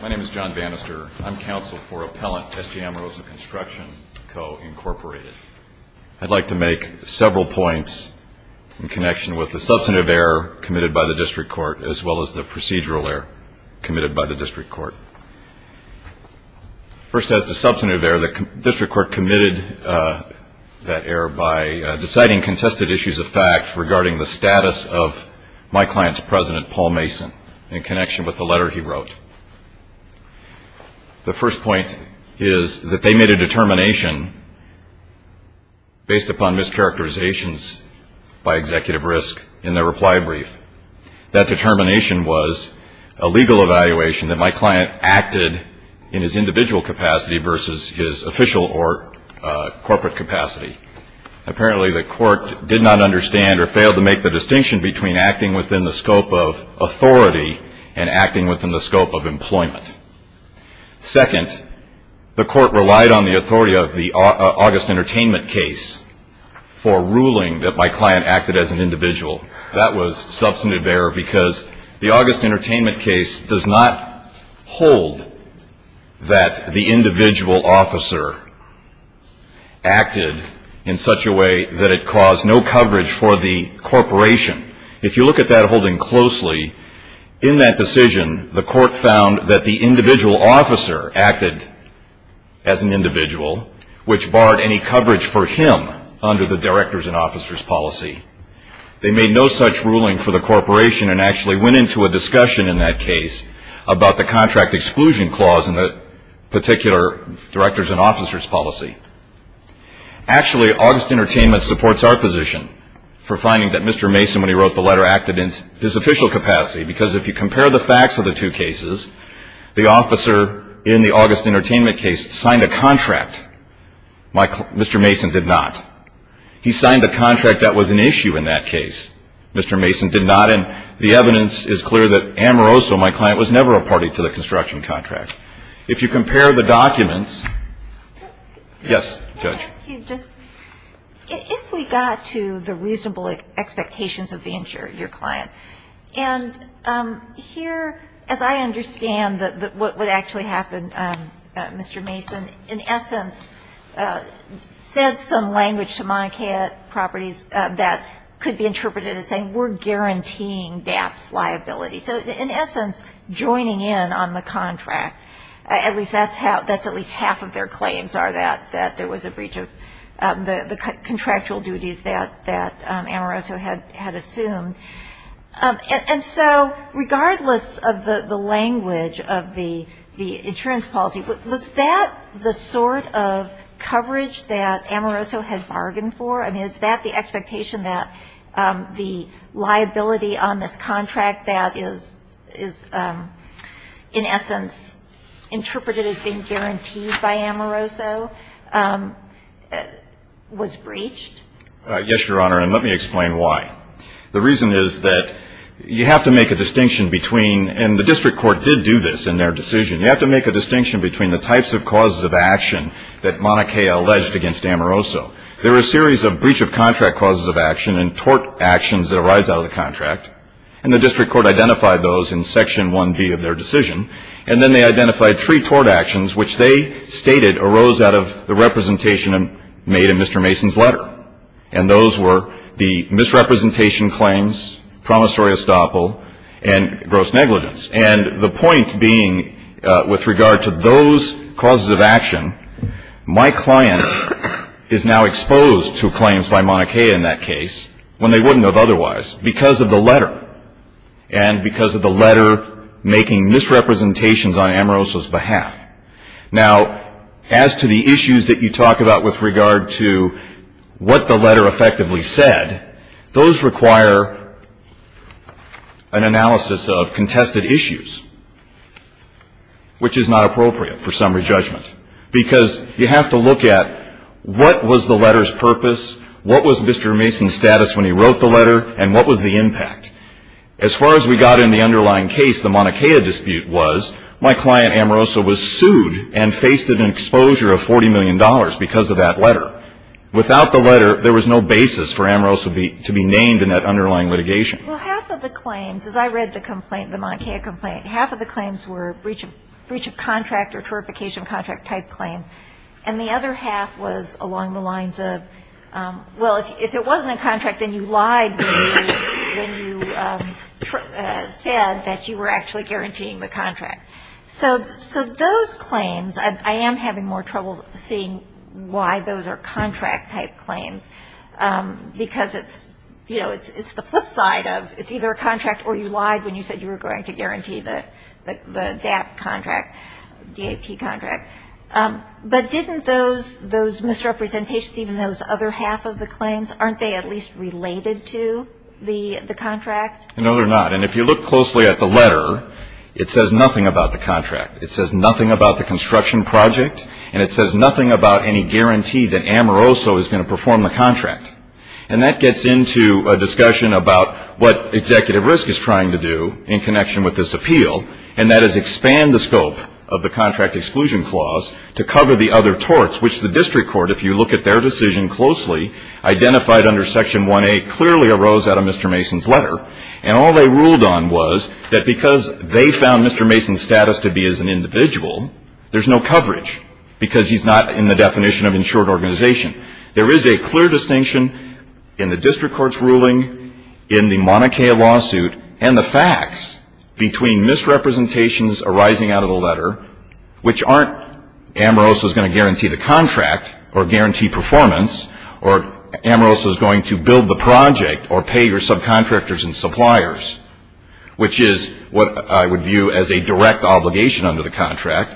My name is John Vanister. I'm counsel for Appellant S.J. Amoroso Construction Co., Inc. I'd like to make several points in connection with the substantive error committed by the District Court as well as the procedural error committed by the District Court. First, as to substantive error, the District Court committed that error by deciding contested issues of fact regarding the status of my client's president, Paul Mason, in connection with the letter he wrote. The first point is that they made a determination based upon mischaracterizations by Executive Risk in their reply brief. That determination was a legal evaluation that my client acted in his individual capacity versus his official or corporate capacity. Apparently the court did not understand or failed to make the distinction between acting within the scope of authority and acting within the scope of employment. Second, the court relied on the authority of the August Entertainment case for ruling that my client acted as an individual. That was substantive error because the August Entertainment case does not hold that the individual officer acted in such a way that it caused no coverage for the corporation. If you look at that holding closely, in that decision the court found that the individual officer acted as an individual which barred any coverage for him under the directors and officers policy. They made no such ruling for the corporation and actually went into a discussion in that case about the contract exclusion clause in the particular directors and officers policy. Actually, August Entertainment supports our position for finding that Mr. Mason, when he wrote the letter, acted in his official capacity because if you compare the facts of the two cases, the officer in the August Entertainment case signed a contract. Mr. Mason did not. He signed a contract that was an issue in that case. Mr. Mason did not. And the evidence is clear that Amoroso, my client, was never a party to the construction contract. If you compare the documents. Yes, Judge. Can I ask you just, if we got to the reasonable expectations of the insurer, your client, and here, as I understand what would actually happen, Mr. Mason, in essence, said some language to Mauna Kea Properties that could be interpreted as saying, we're guaranteeing DAF's liability. So in essence, joining in on the contract, at least that's how, that's at least half of their claims are that there was a breach of the contractual duties that Amoroso had assumed. And so regardless of the language of the insurance policy, was that the sort of coverage that Amoroso had bargained for? I mean, is that the expectation that the liability on this contract that is in essence interpreted as being guaranteed by Amoroso was breached? Yes, Your Honor. And let me explain why. The reason is that you have to make a distinction between, and the district court did do this in their decision, you have to make a distinction between the types of causes of action that Mauna Kea alleged against Amoroso. There were a series of breach of contract causes of action and tort actions that arise out of the contract. And the district court identified those in Section 1B of their decision. And then they identified three tort actions which they stated arose out of the representation made in Mr. Mason's letter. And those were the misrepresentation claims, promissory estoppel, and gross negligence. And the point being with regard to those causes of action, my client is now exposed to claims by Mauna Kea in that case when they wouldn't have otherwise because of the letter and because of the letter making misrepresentations on Amoroso's behalf. Now, as to the issues that you talk about with regard to what the letter effectively said, those require an analysis of contested issues, which is not appropriate for summary judgment. Because you have to look at what was the letter's purpose, what was Mr. Mason's status when he wrote the letter, and what was the impact. As far as we got in the underlying case, the Mauna Kea dispute was my client, Amoroso, was sued and faced an exposure of $40 million because of that letter. Without the letter, there was no basis for Amoroso to be named in that underlying litigation. Well, half of the claims, as I read the complaint, the Mauna Kea complaint, half of the claims were breach of contract or tortification of contract type claims. And the other half was along the lines of, well, if it wasn't a contract, then you lied, when you said that you were actually guaranteeing the contract. So those claims, I am having more trouble seeing why those are contract type claims, because it's, you know, it's the flip side of it's either a contract or you lied when you said you were going to guarantee the DAP contract, DAP contract. But didn't those misrepresentations, even those other half of the claims, aren't they at least related to the contract? No, they're not. And if you look closely at the letter, it says nothing about the contract. It says nothing about the construction project, and it says nothing about any guarantee that Amoroso is going to perform the contract. And that gets into a discussion about what Executive Risk is trying to do in connection with this appeal, and that is expand the scope of the contract exclusion clause to cover the other torts, which the district court, if you look at their decision closely, identified under Section 1A clearly arose out of Mr. Mason's letter. And all they ruled on was that because they found Mr. Mason's status to be as an individual, there's no coverage because he's not in the definition of insured organization. There is a clear distinction in the district court's ruling, in the Mauna Kea lawsuit, and the facts between misrepresentations arising out of the letter, which aren't Amoroso is going to guarantee the contract or guarantee performance or Amoroso is going to build the project or pay your subcontractors and suppliers, which is what I would view as a direct obligation under the contract,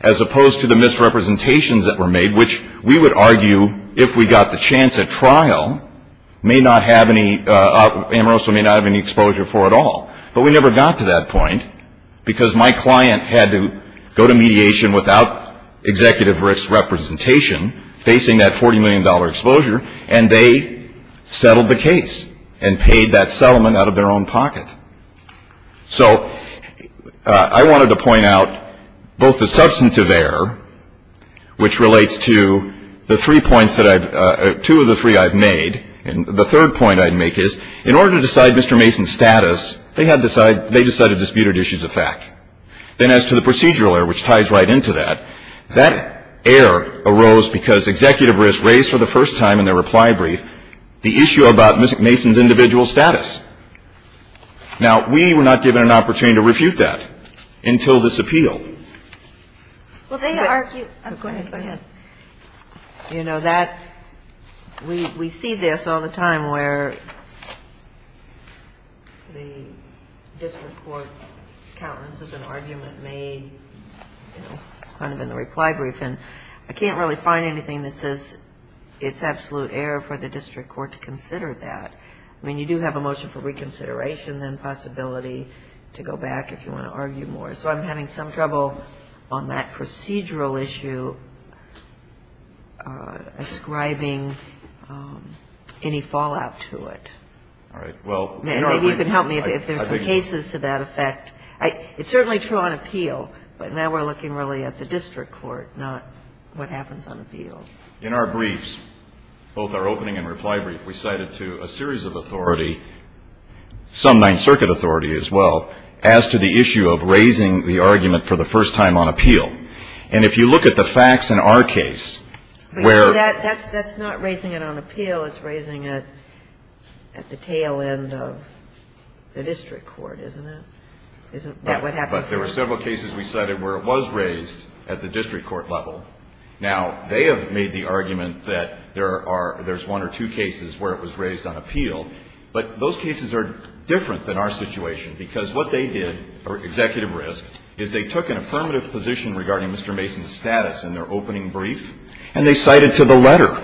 as opposed to the misrepresentations that were made, which we would argue if we got the chance at trial, Amoroso may not have any exposure for at all. But we never got to that point because my client had to go to mediation without executive risk representation, facing that $40 million exposure, and they settled the case and paid that settlement out of their own pocket. So I wanted to point out both the substantive error, which relates to the three points that I've, two of the three I've made, and the third point I'd make is, in order to decide Mr. Mason's status, they had to decide, they decided to dispute his issues of fact. Then as to the procedural error, which ties right into that, that error arose because executive risk raised for the first time in their reply brief the issue about Mr. Mason's individual status. Now, we were not given an opportunity to refute that until this appeal. Well, they argue. Go ahead. You know, that, we see this all the time where the district court countenances and argument made, you know, kind of in the reply brief, and I can't really find anything that says it's absolute error for the district court to consider that. I mean, you do have a motion for reconsideration, then possibility to go back if you want to argue more. So I'm having some trouble on that procedural issue ascribing any fallout to it. All right. Well. Maybe you can help me if there's some cases to that effect. It's certainly true on appeal, but now we're looking really at the district court, not what happens on appeal. In our briefs, both our opening and reply brief, we cited to a series of authority, some Ninth Circuit authority as well, as to the issue of raising the argument for the first time on appeal. And if you look at the facts in our case, where. That's not raising it on appeal. It's raising it at the tail end of the district court, isn't it? Isn't that what happened? But there were several cases we cited where it was raised at the district court level. Now, they have made the argument that there are, there's one or two cases where it was raised on appeal. But those cases are different than our situation, because what they did, or executive risk, is they took an affirmative position regarding Mr. Mason's status in their opening brief, and they cited to the letter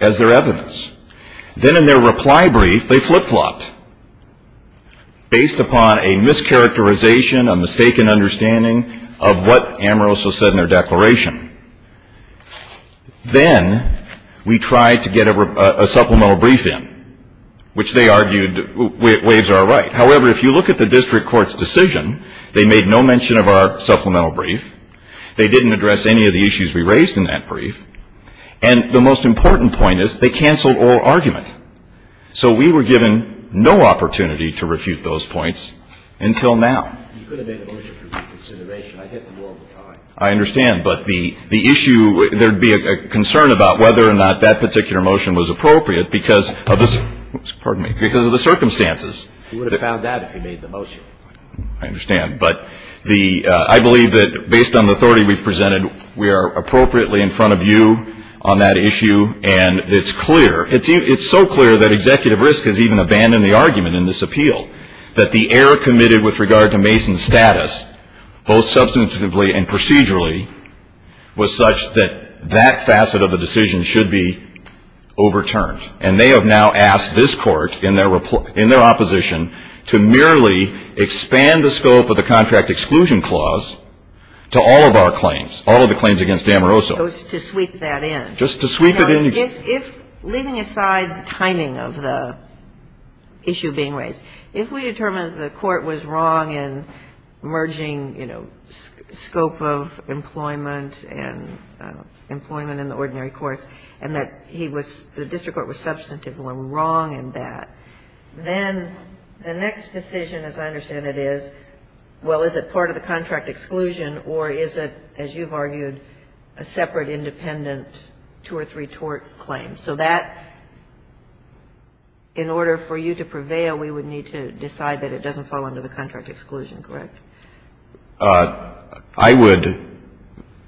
as their evidence. Then in their reply brief, they flip-flopped, based upon a mischaracterization, a mistaken understanding of what Amoroso said in their declaration. Then we tried to get a supplemental brief in, which they argued waives our right. However, if you look at the district court's decision, they made no mention of our supplemental brief. They didn't address any of the issues we raised in that brief. And the most important point is they canceled oral argument. So we were given no opportunity to refute those points until now. You could have made a motion for reconsideration. I get them all the time. I understand. But the issue, there would be a concern about whether or not that particular motion was appropriate because of this, pardon me, because of the circumstances. You would have found out if you made the motion. I understand. But the, I believe that based on the authority we presented, we are appropriately in front of you on that issue. And it's clear, it's so clear that executive risk has even abandoned the argument in this appeal, that the error committed with regard to Mason's status, both substantively and procedurally, was such that that facet of the decision should be overturned. And they have now asked this Court in their opposition to merely expand the scope of the contract exclusion clause to all of our claims, all of the claims against Amoroso. To sweep that in. Just to sweep it in. If, leaving aside the timing of the issue being raised, if we determined the Court was wrong in merging, you know, scope of employment and employment in the ordinary course, and that he was, the district court was substantively wrong in that, then the next decision, as I understand it is, well, is it part of the contract exclusion or is it, as you've argued, a separate independent two or three-tort claim? So that, in order for you to prevail, we would need to decide that it doesn't fall under the contract exclusion, correct? I would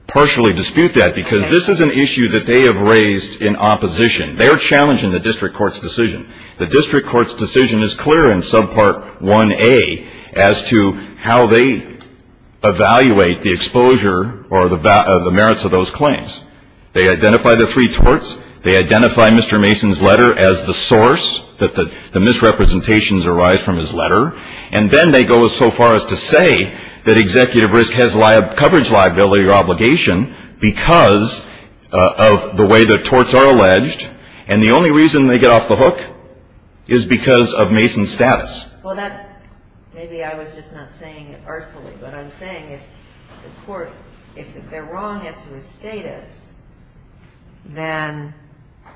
partially dispute that, because this is an issue that they have raised in opposition. They are challenging the district court's decision. The district court's decision is clear in subpart 1A as to how they evaluate the exposure or the merits of those claims. They identify the three torts. They identify Mr. Mason's letter as the source, that the misrepresentations arise from his letter. And then they go so far as to say that executive risk has coverage liability or obligation because of the way the torts are alleged. And the only reason they get off the hook is because of Mason's status. Well, that, maybe I was just not saying it artfully, but I'm saying if the court, if they're wrong as to his status, then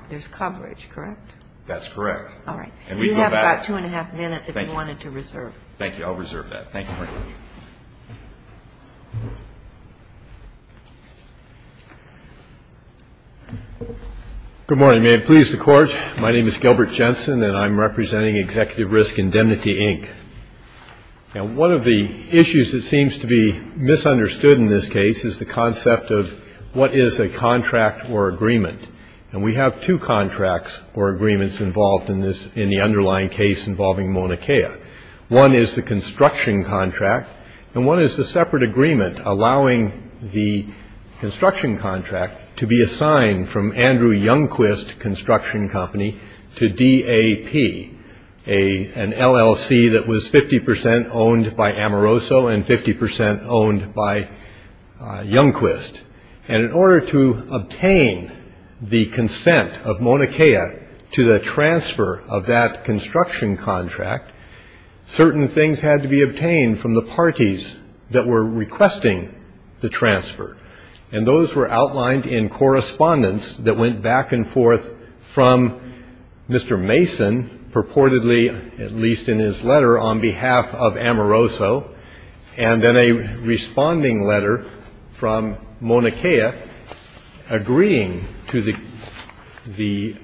there's coverage, correct? That's correct. All right. And we go back. You have about two and a half minutes if you wanted to reserve. Thank you. I'll reserve that. Thank you very much. Thank you. Good morning. May it please the Court. My name is Gilbert Jensen, and I'm representing Executive Risk Indemnity, Inc. Now, one of the issues that seems to be misunderstood in this case is the concept of what is a contract or agreement. And we have two contracts or agreements involved in this, in the underlying case involving Mauna Kea. One is the construction contract, and one is the separate agreement allowing the construction contract to be assigned from Andrew Youngquist Construction Company to DAP, an LLC that was 50% owned by Amoroso and 50% owned by Youngquist. And in order to obtain the consent of Mauna Kea to the transfer of that contract, certain things had to be obtained from the parties that were requesting the transfer. And those were outlined in correspondence that went back and forth from Mr. Mason, purportedly, at least in his letter, on behalf of Amoroso, and then a responding letter from Mauna Kea agreeing to the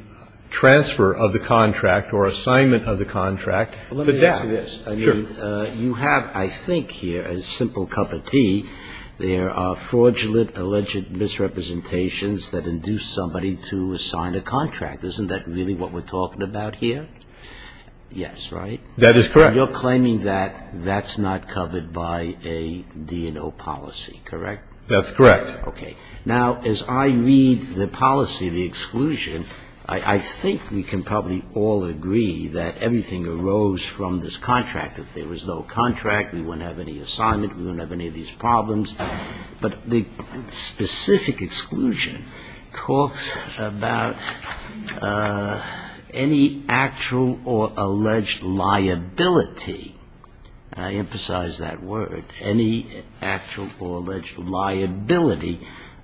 transfer of the contract or assignment of the contract to DAP. But let me ask you this. Sure. I mean, you have, I think here, a simple cup of tea. There are fraudulent, alleged misrepresentations that induce somebody to assign a contract. Isn't that really what we're talking about here? Yes, right? That is correct. And you're claiming that that's not covered by a D&O policy, correct? That's correct. Okay. Now, as I read the policy, the exclusion, I think we can probably all agree that everything arose from this contract. If there was no contract, we wouldn't have any assignment. We wouldn't have any of these problems. But the specific exclusion talks about any actual or alleged liability. I emphasize that word. Any actual or alleged liability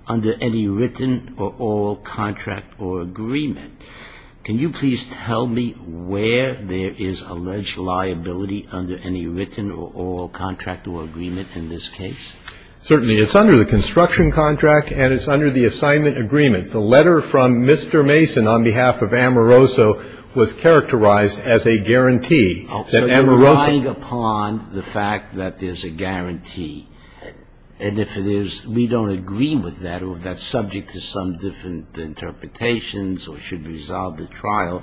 under any written or oral contract or agreement. Can you please tell me where there is alleged liability under any written or oral contract or agreement in this case? Certainly. It's under the construction contract and it's under the assignment agreement. The letter from Mr. Mason on behalf of Amoroso was characterized as a guarantee that Amoroso ---- And if it is, we don't agree with that or if that's subject to some different interpretations or should resolve the trial,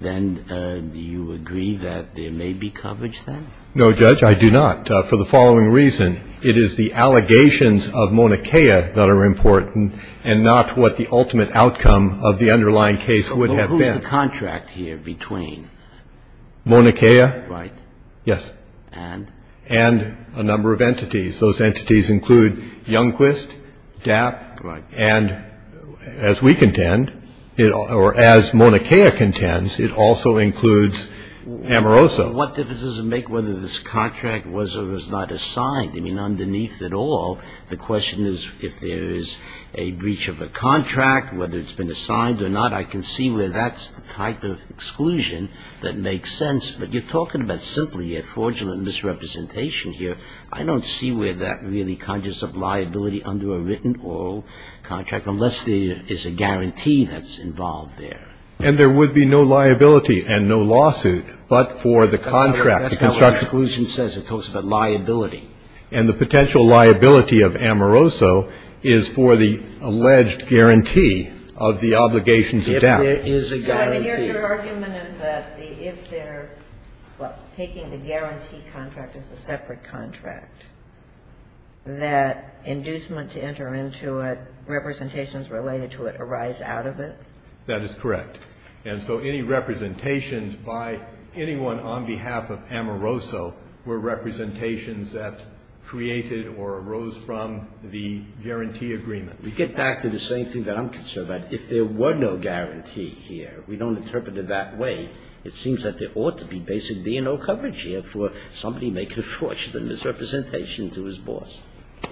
then do you agree that there may be coverage then? No, Judge, I do not, for the following reason. It is the allegations of MONICAEA that are important and not what the ultimate outcome of the underlying case would have been. Well, who's the contract here between? MONICAEA? Right. Yes. And? And a number of entities. Those entities include Youngquist, DAP. Right. And as we contend or as MONICAEA contends, it also includes Amoroso. What difference does it make whether this contract was or was not assigned? I mean, underneath it all, the question is if there is a breach of a contract, whether it's been assigned or not. I can see where that's the type of exclusion that makes sense. But you're talking about simply a fraudulent misrepresentation here. I don't see where that really conjures up liability under a written oral contract unless there is a guarantee that's involved there. And there would be no liability and no lawsuit but for the contract. That's not what the exclusion says. It talks about liability. And the potential liability of Amoroso is for the alleged guarantee of the obligations of death. If there is a guarantee. Your argument is that if they're taking the guarantee contract as a separate contract, that inducement to enter into it, representations related to it arise out of it? That is correct. And so any representations by anyone on behalf of Amoroso were representations that created or arose from the guarantee agreement. We get back to the same thing that I'm concerned about. If there were no guarantee here, we don't interpret it that way. It seems that there ought to be basically no coverage here for somebody making fraudulent misrepresentation to his boss.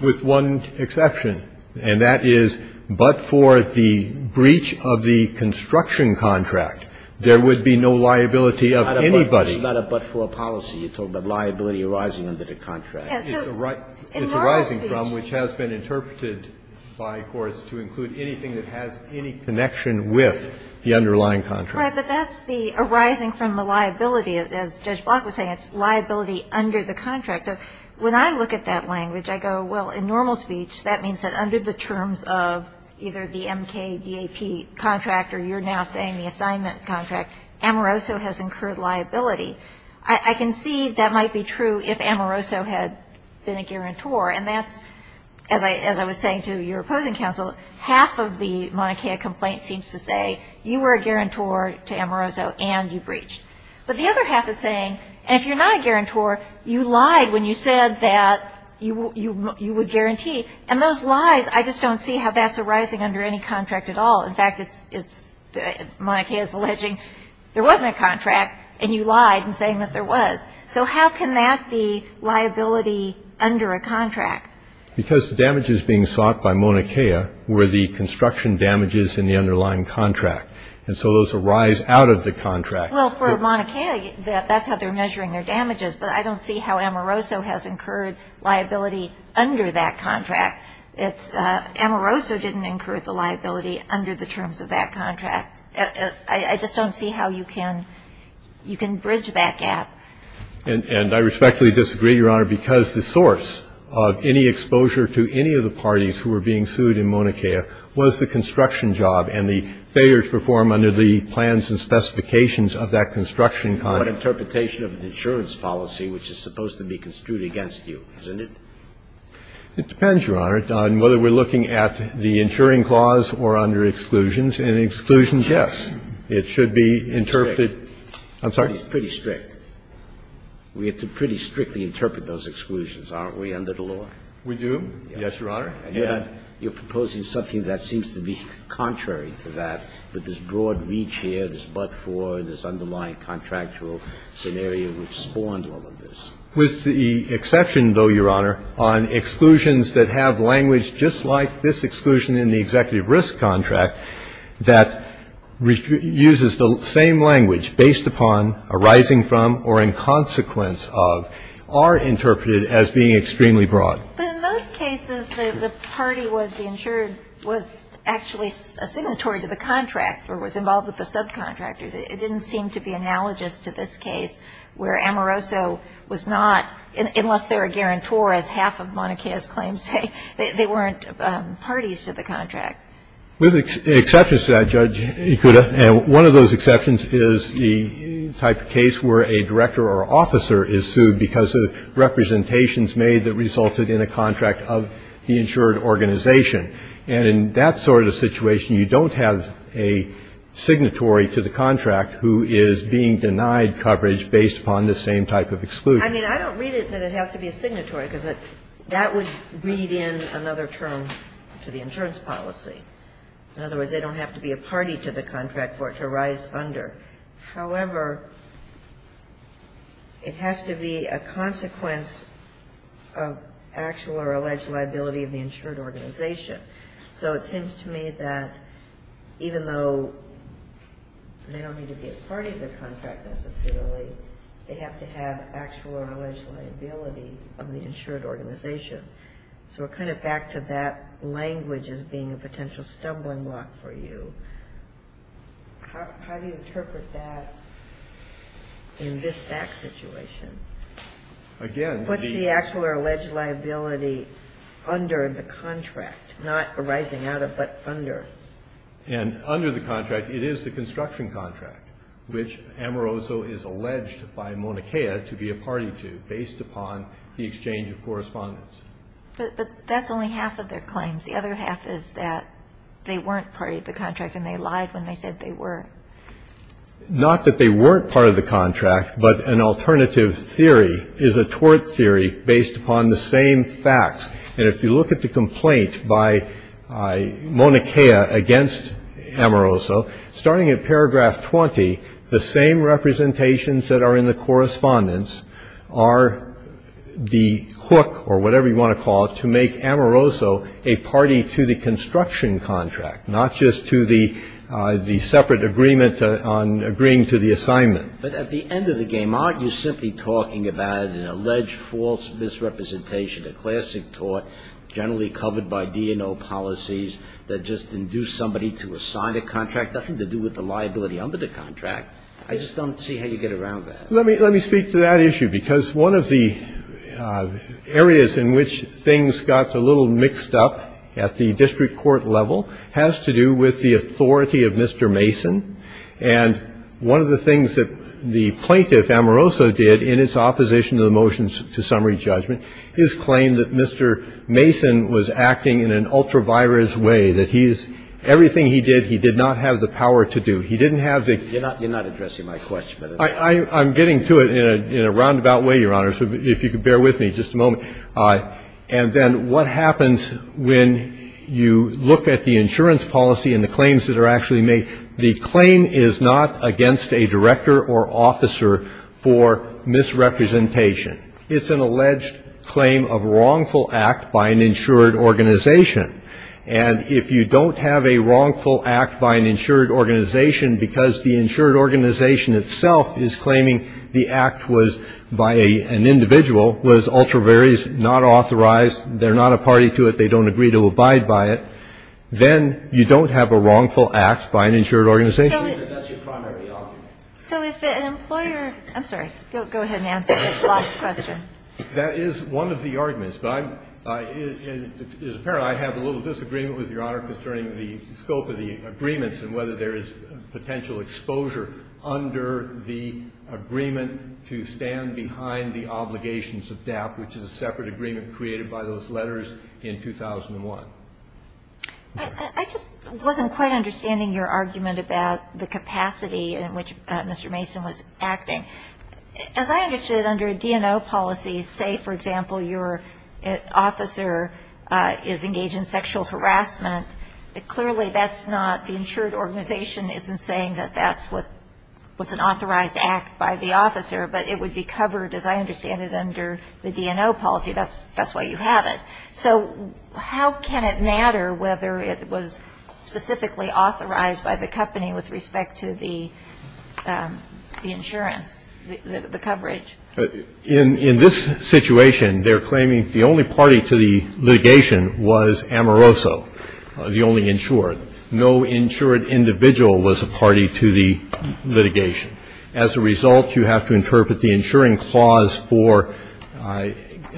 With one exception, and that is but for the breach of the construction contract, there would be no liability of anybody. It's not a but for a policy. You're talking about liability arising under the contract. It's arising from which has been interpreted by courts to include anything that has any connection with the underlying contract. Right. But that's the arising from the liability. As Judge Block was saying, it's liability under the contract. So when I look at that language, I go, well, in normal speech, that means that under the terms of either the MKDAP contract or you're now saying the assignment contract, Amoroso has incurred liability. I can see that might be true if Amoroso had been a guarantor. And that's, as I was saying to your opposing counsel, half of the Mauna Kea complaint seems to say you were a guarantor to Amoroso and you breached. But the other half is saying, and if you're not a guarantor, you lied when you said that you would guarantee. And those lies, I just don't see how that's arising under any contract at all. In fact, Mauna Kea is alleging there wasn't a contract and you lied in saying that there was. So how can that be liability under a contract? Because the damages being sought by Mauna Kea were the construction damages in the underlying contract. And so those arise out of the contract. Well, for Mauna Kea, that's how they're measuring their damages. But I don't see how Amoroso has incurred liability under that contract. Amoroso didn't incur the liability under the terms of that contract. I just don't see how you can bridge that gap. And I respectfully disagree, Your Honor, because the source of any exposure to any of the parties who were being sued in Mauna Kea was the construction job and the failures performed under the plans and specifications of that construction contract. What interpretation of an insurance policy, which is supposed to be construed against you, isn't it? It depends, Your Honor, on whether we're looking at the insuring clause or under exclusions. And exclusions, yes. It should be interpreted. I'm sorry? It's pretty strict. We have to pretty strictly interpret those exclusions, aren't we, under the law? We do. Yes, Your Honor. And you're proposing something that seems to be contrary to that, with this broad reach here, this but-for, this underlying contractual scenario which spawned all of this. With the exception, though, Your Honor, on exclusions that have language just like this exclusion in the executive risk contract that uses the same language, based upon, arising from, or in consequence of, are interpreted as being extremely broad. But in most cases, the party was the insured was actually a signatory to the contract or was involved with the subcontractors. It didn't seem to be analogous to this case, where Amoroso was not, unless they were a guarantor, as half of Mauna Kea's claims say, they weren't parties to the contract. With exceptions to that, Judge Ikuda, and one of those exceptions is the type of case where a director or officer is sued because of representations made that resulted in a contract of the insured organization. And in that sort of situation, you don't have a signatory to the contract who is being denied coverage based upon the same type of exclusion. I mean, I don't read it that it has to be a signatory, because that would read in another term to the insurance policy. In other words, they don't have to be a party to the contract for it to rise under. However, it has to be a consequence of actual or alleged liability of the insured organization. So it seems to me that even though they don't need to be a party to the contract necessarily, they have to have actual or alleged liability of the insured organization. So we're kind of back to that language as being a potential stumbling block for you. How do you interpret that in this fact situation? What's the actual or alleged liability under the contract, not arising out of, but under? And under the contract, it is the construction contract, which Amoroso is alleged by Moniquea to be a party to based upon the exchange of correspondence. But that's only half of their claims. The other half is that they weren't part of the contract and they lied when they said they were. Not that they weren't part of the contract, but an alternative theory is a tort theory based upon the same facts. And if you look at the complaint by Moniquea against Amoroso, starting at paragraph 20, the same representations that are in the correspondence are the hook, or whatever you want to call it, to make Amoroso a party to the construction contract, not just to the separate agreement on agreeing to the assignment. But at the end of the game, aren't you simply talking about an alleged false misrepresentation, a classic tort generally covered by DNO policies that just induce somebody to assign a contract? Nothing to do with the liability under the contract. I just don't see how you get around that. Let me speak to that issue, because one of the areas in which things got a little mixed up at the district court level has to do with the authority of Mr. Mason. And one of the things that the plaintiff, Amoroso, did in its opposition to the motion to summary judgment is claim that Mr. Mason was acting in an ultra-virus way, that he's – everything he did, he did not have the power to do. He didn't have the – You're not addressing my question. I'm getting to it in a roundabout way, Your Honor, so if you could bear with me just a moment. And then what happens when you look at the insurance policy and the claims that are actually made? The claim is not against a director or officer for misrepresentation. It's an alleged claim of wrongful act by an insured organization. And if you don't have a wrongful act by an insured organization because the insured organization itself is claiming the act was by an individual, was ultra-virus, not authorized, they're not a party to it, they don't agree to abide by it, then you don't have a wrongful act by an insured organization. So if an employer – I'm sorry. Go ahead and answer the last question. That is one of the arguments. But I'm – it's apparent I have a little disagreement with Your Honor concerning the scope of the agreements and whether there is potential exposure under the agreement to stand behind the obligations of DAP, which is a separate agreement created by those letters in 2001. Okay. I just wasn't quite understanding your argument about the capacity in which Mr. Mason was acting. As I understood, under a DNO policy, say, for example, your officer is engaged in Clearly, that's not – the insured organization isn't saying that that's what was an authorized act by the officer, but it would be covered, as I understand it, under the DNO policy. That's why you have it. So how can it matter whether it was specifically authorized by the company with respect to the insurance, the coverage? In this situation, they're claiming the only party to the litigation was Amoroso, the only insured. No insured individual was a party to the litigation. As a result, you have to interpret the insuring clause for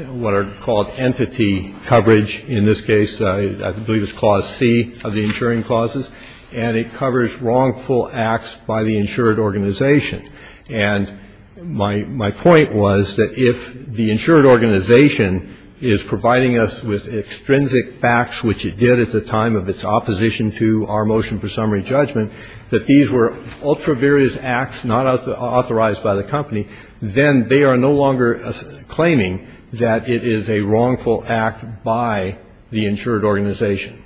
what are called entity coverage. In this case, I believe it's clause C of the insuring clauses. And it covers wrongful acts by the insured organization. And my point was that if the insured organization is providing us with extrinsic facts, which it did at the time of its opposition to our motion for summary judgment, that these were ultra-various acts not authorized by the company, then they are no longer claiming that it is a wrongful act by the insured organization.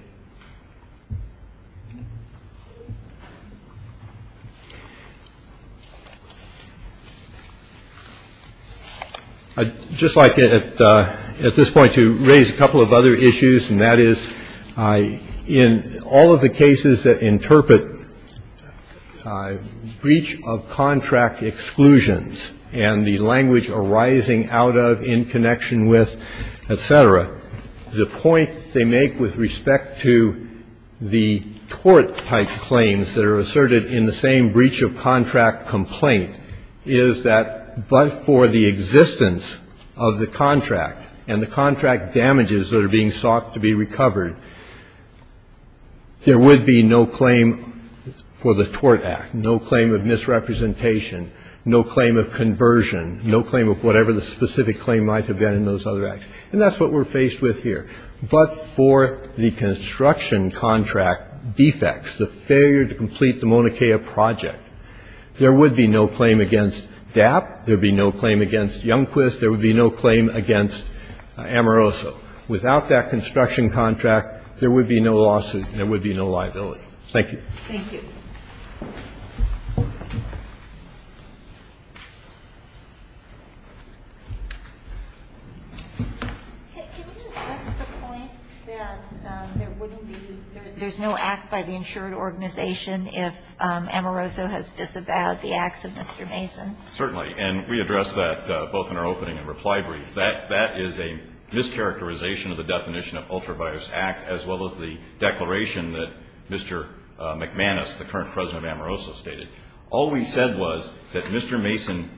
I'd just like at this point to raise a couple of other issues, and that would be the one that is in all of the cases that interpret breach of contract exclusions and the language arising out of, in connection with, et cetera, the point they make with respect to the tort-type claims that are asserted in the same breach-of-contract complaint is that but for the existence of the contract and the contract damages that are being sought to be recovered, there would be no claim for the tort act, no claim of misrepresentation, no claim of conversion, no claim of whatever the specific claim might have been in those other acts. And that's what we're faced with here. But for the construction contract defects, the failure to complete the Maunakea project, there would be no claim against DAP, there would be no claim against Amoroso. Without that construction contract, there would be no lawsuit and there would be no liability. Thank you. Thank you. Can you address the point that there wouldn't be, there's no act by the insured organization if Amoroso has disavowed the acts of Mr. Mason? Certainly. And we addressed that both in our opening and reply brief. That is a mischaracterization of the definition of ultra-virus act as well as the declaration that Mr. McManus, the current president of Amoroso stated. All we said was that Mr. Mason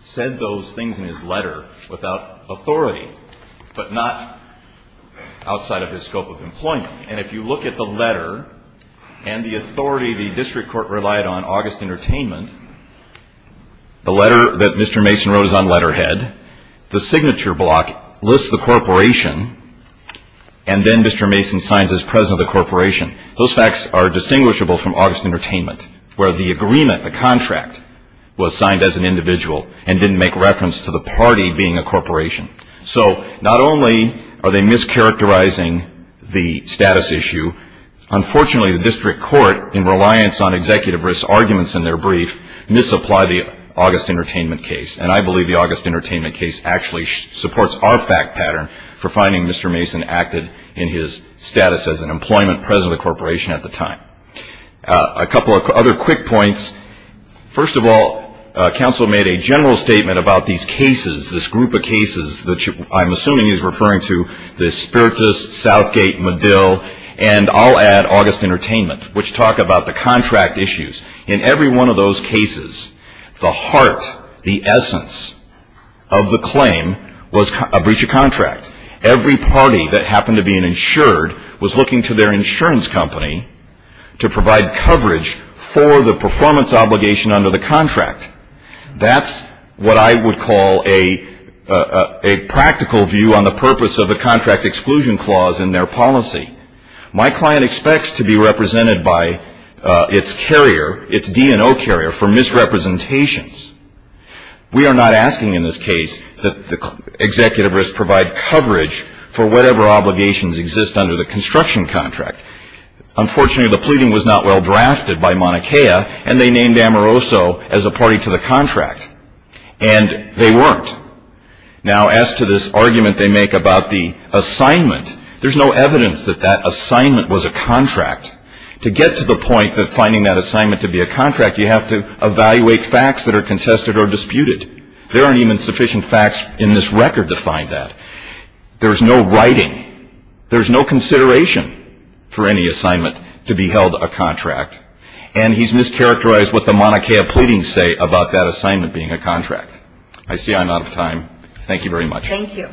said those things in his letter without authority but not outside of his scope of employment. And if you look at the letter and the authority the district court relied on, August Entertainment, the letter that Mr. Mason wrote is on letterhead. The signature block lists the corporation and then Mr. Mason signs as president of the corporation. Those facts are distinguishable from August Entertainment where the agreement, the contract, was signed as an individual and didn't make reference to the party being a corporation. So not only are they mischaracterizing the status issue, unfortunately the district court, in reliance on executive risk arguments in their brief, misapplied the August Entertainment case. And I believe the August Entertainment case actually supports our fact pattern for finding Mr. Mason acted in his status as an employment president of the corporation at the time. A couple of other quick points. First of all, counsel made a general statement about these cases, this group of cases that I'm assuming he's referring to, the Spiritus, Southgate, Medill, and I'll add August Entertainment, which talk about the contract issues. In every one of those cases, the heart, the essence of the claim was a breach of contract. Every party that happened to be insured was looking to their insurance company to provide coverage for the performance obligation under the contract. That's what I would call a practical view on the purpose of a contract exclusion clause in their policy. My client expects to be represented by its carrier, its D&O carrier, for misrepresentations. We are not asking in this case that the executive risk provide coverage for whatever obligations exist under the construction contract. Unfortunately, the pleading was not well drafted by Mauna Kea, and they named Amoroso as a party to the contract. And they weren't. Now, as to this argument they make about the assignment, there's no evidence that that assignment was a contract. To get to the point that finding that assignment to be a contract, you have to evaluate facts that are contested or disputed. There aren't even sufficient facts in this record to find that. There's no writing. There's no consideration for any assignment to be held a contract. And he's mischaracterized what the Mauna Kea pleadings say about that assignment being a contract. I see I'm out of time. Thank you very much. Thank you.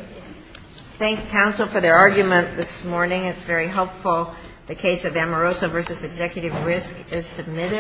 Thank counsel for their argument this morning. It's very helpful. The case of Amoroso v. Executive Risk is submitted.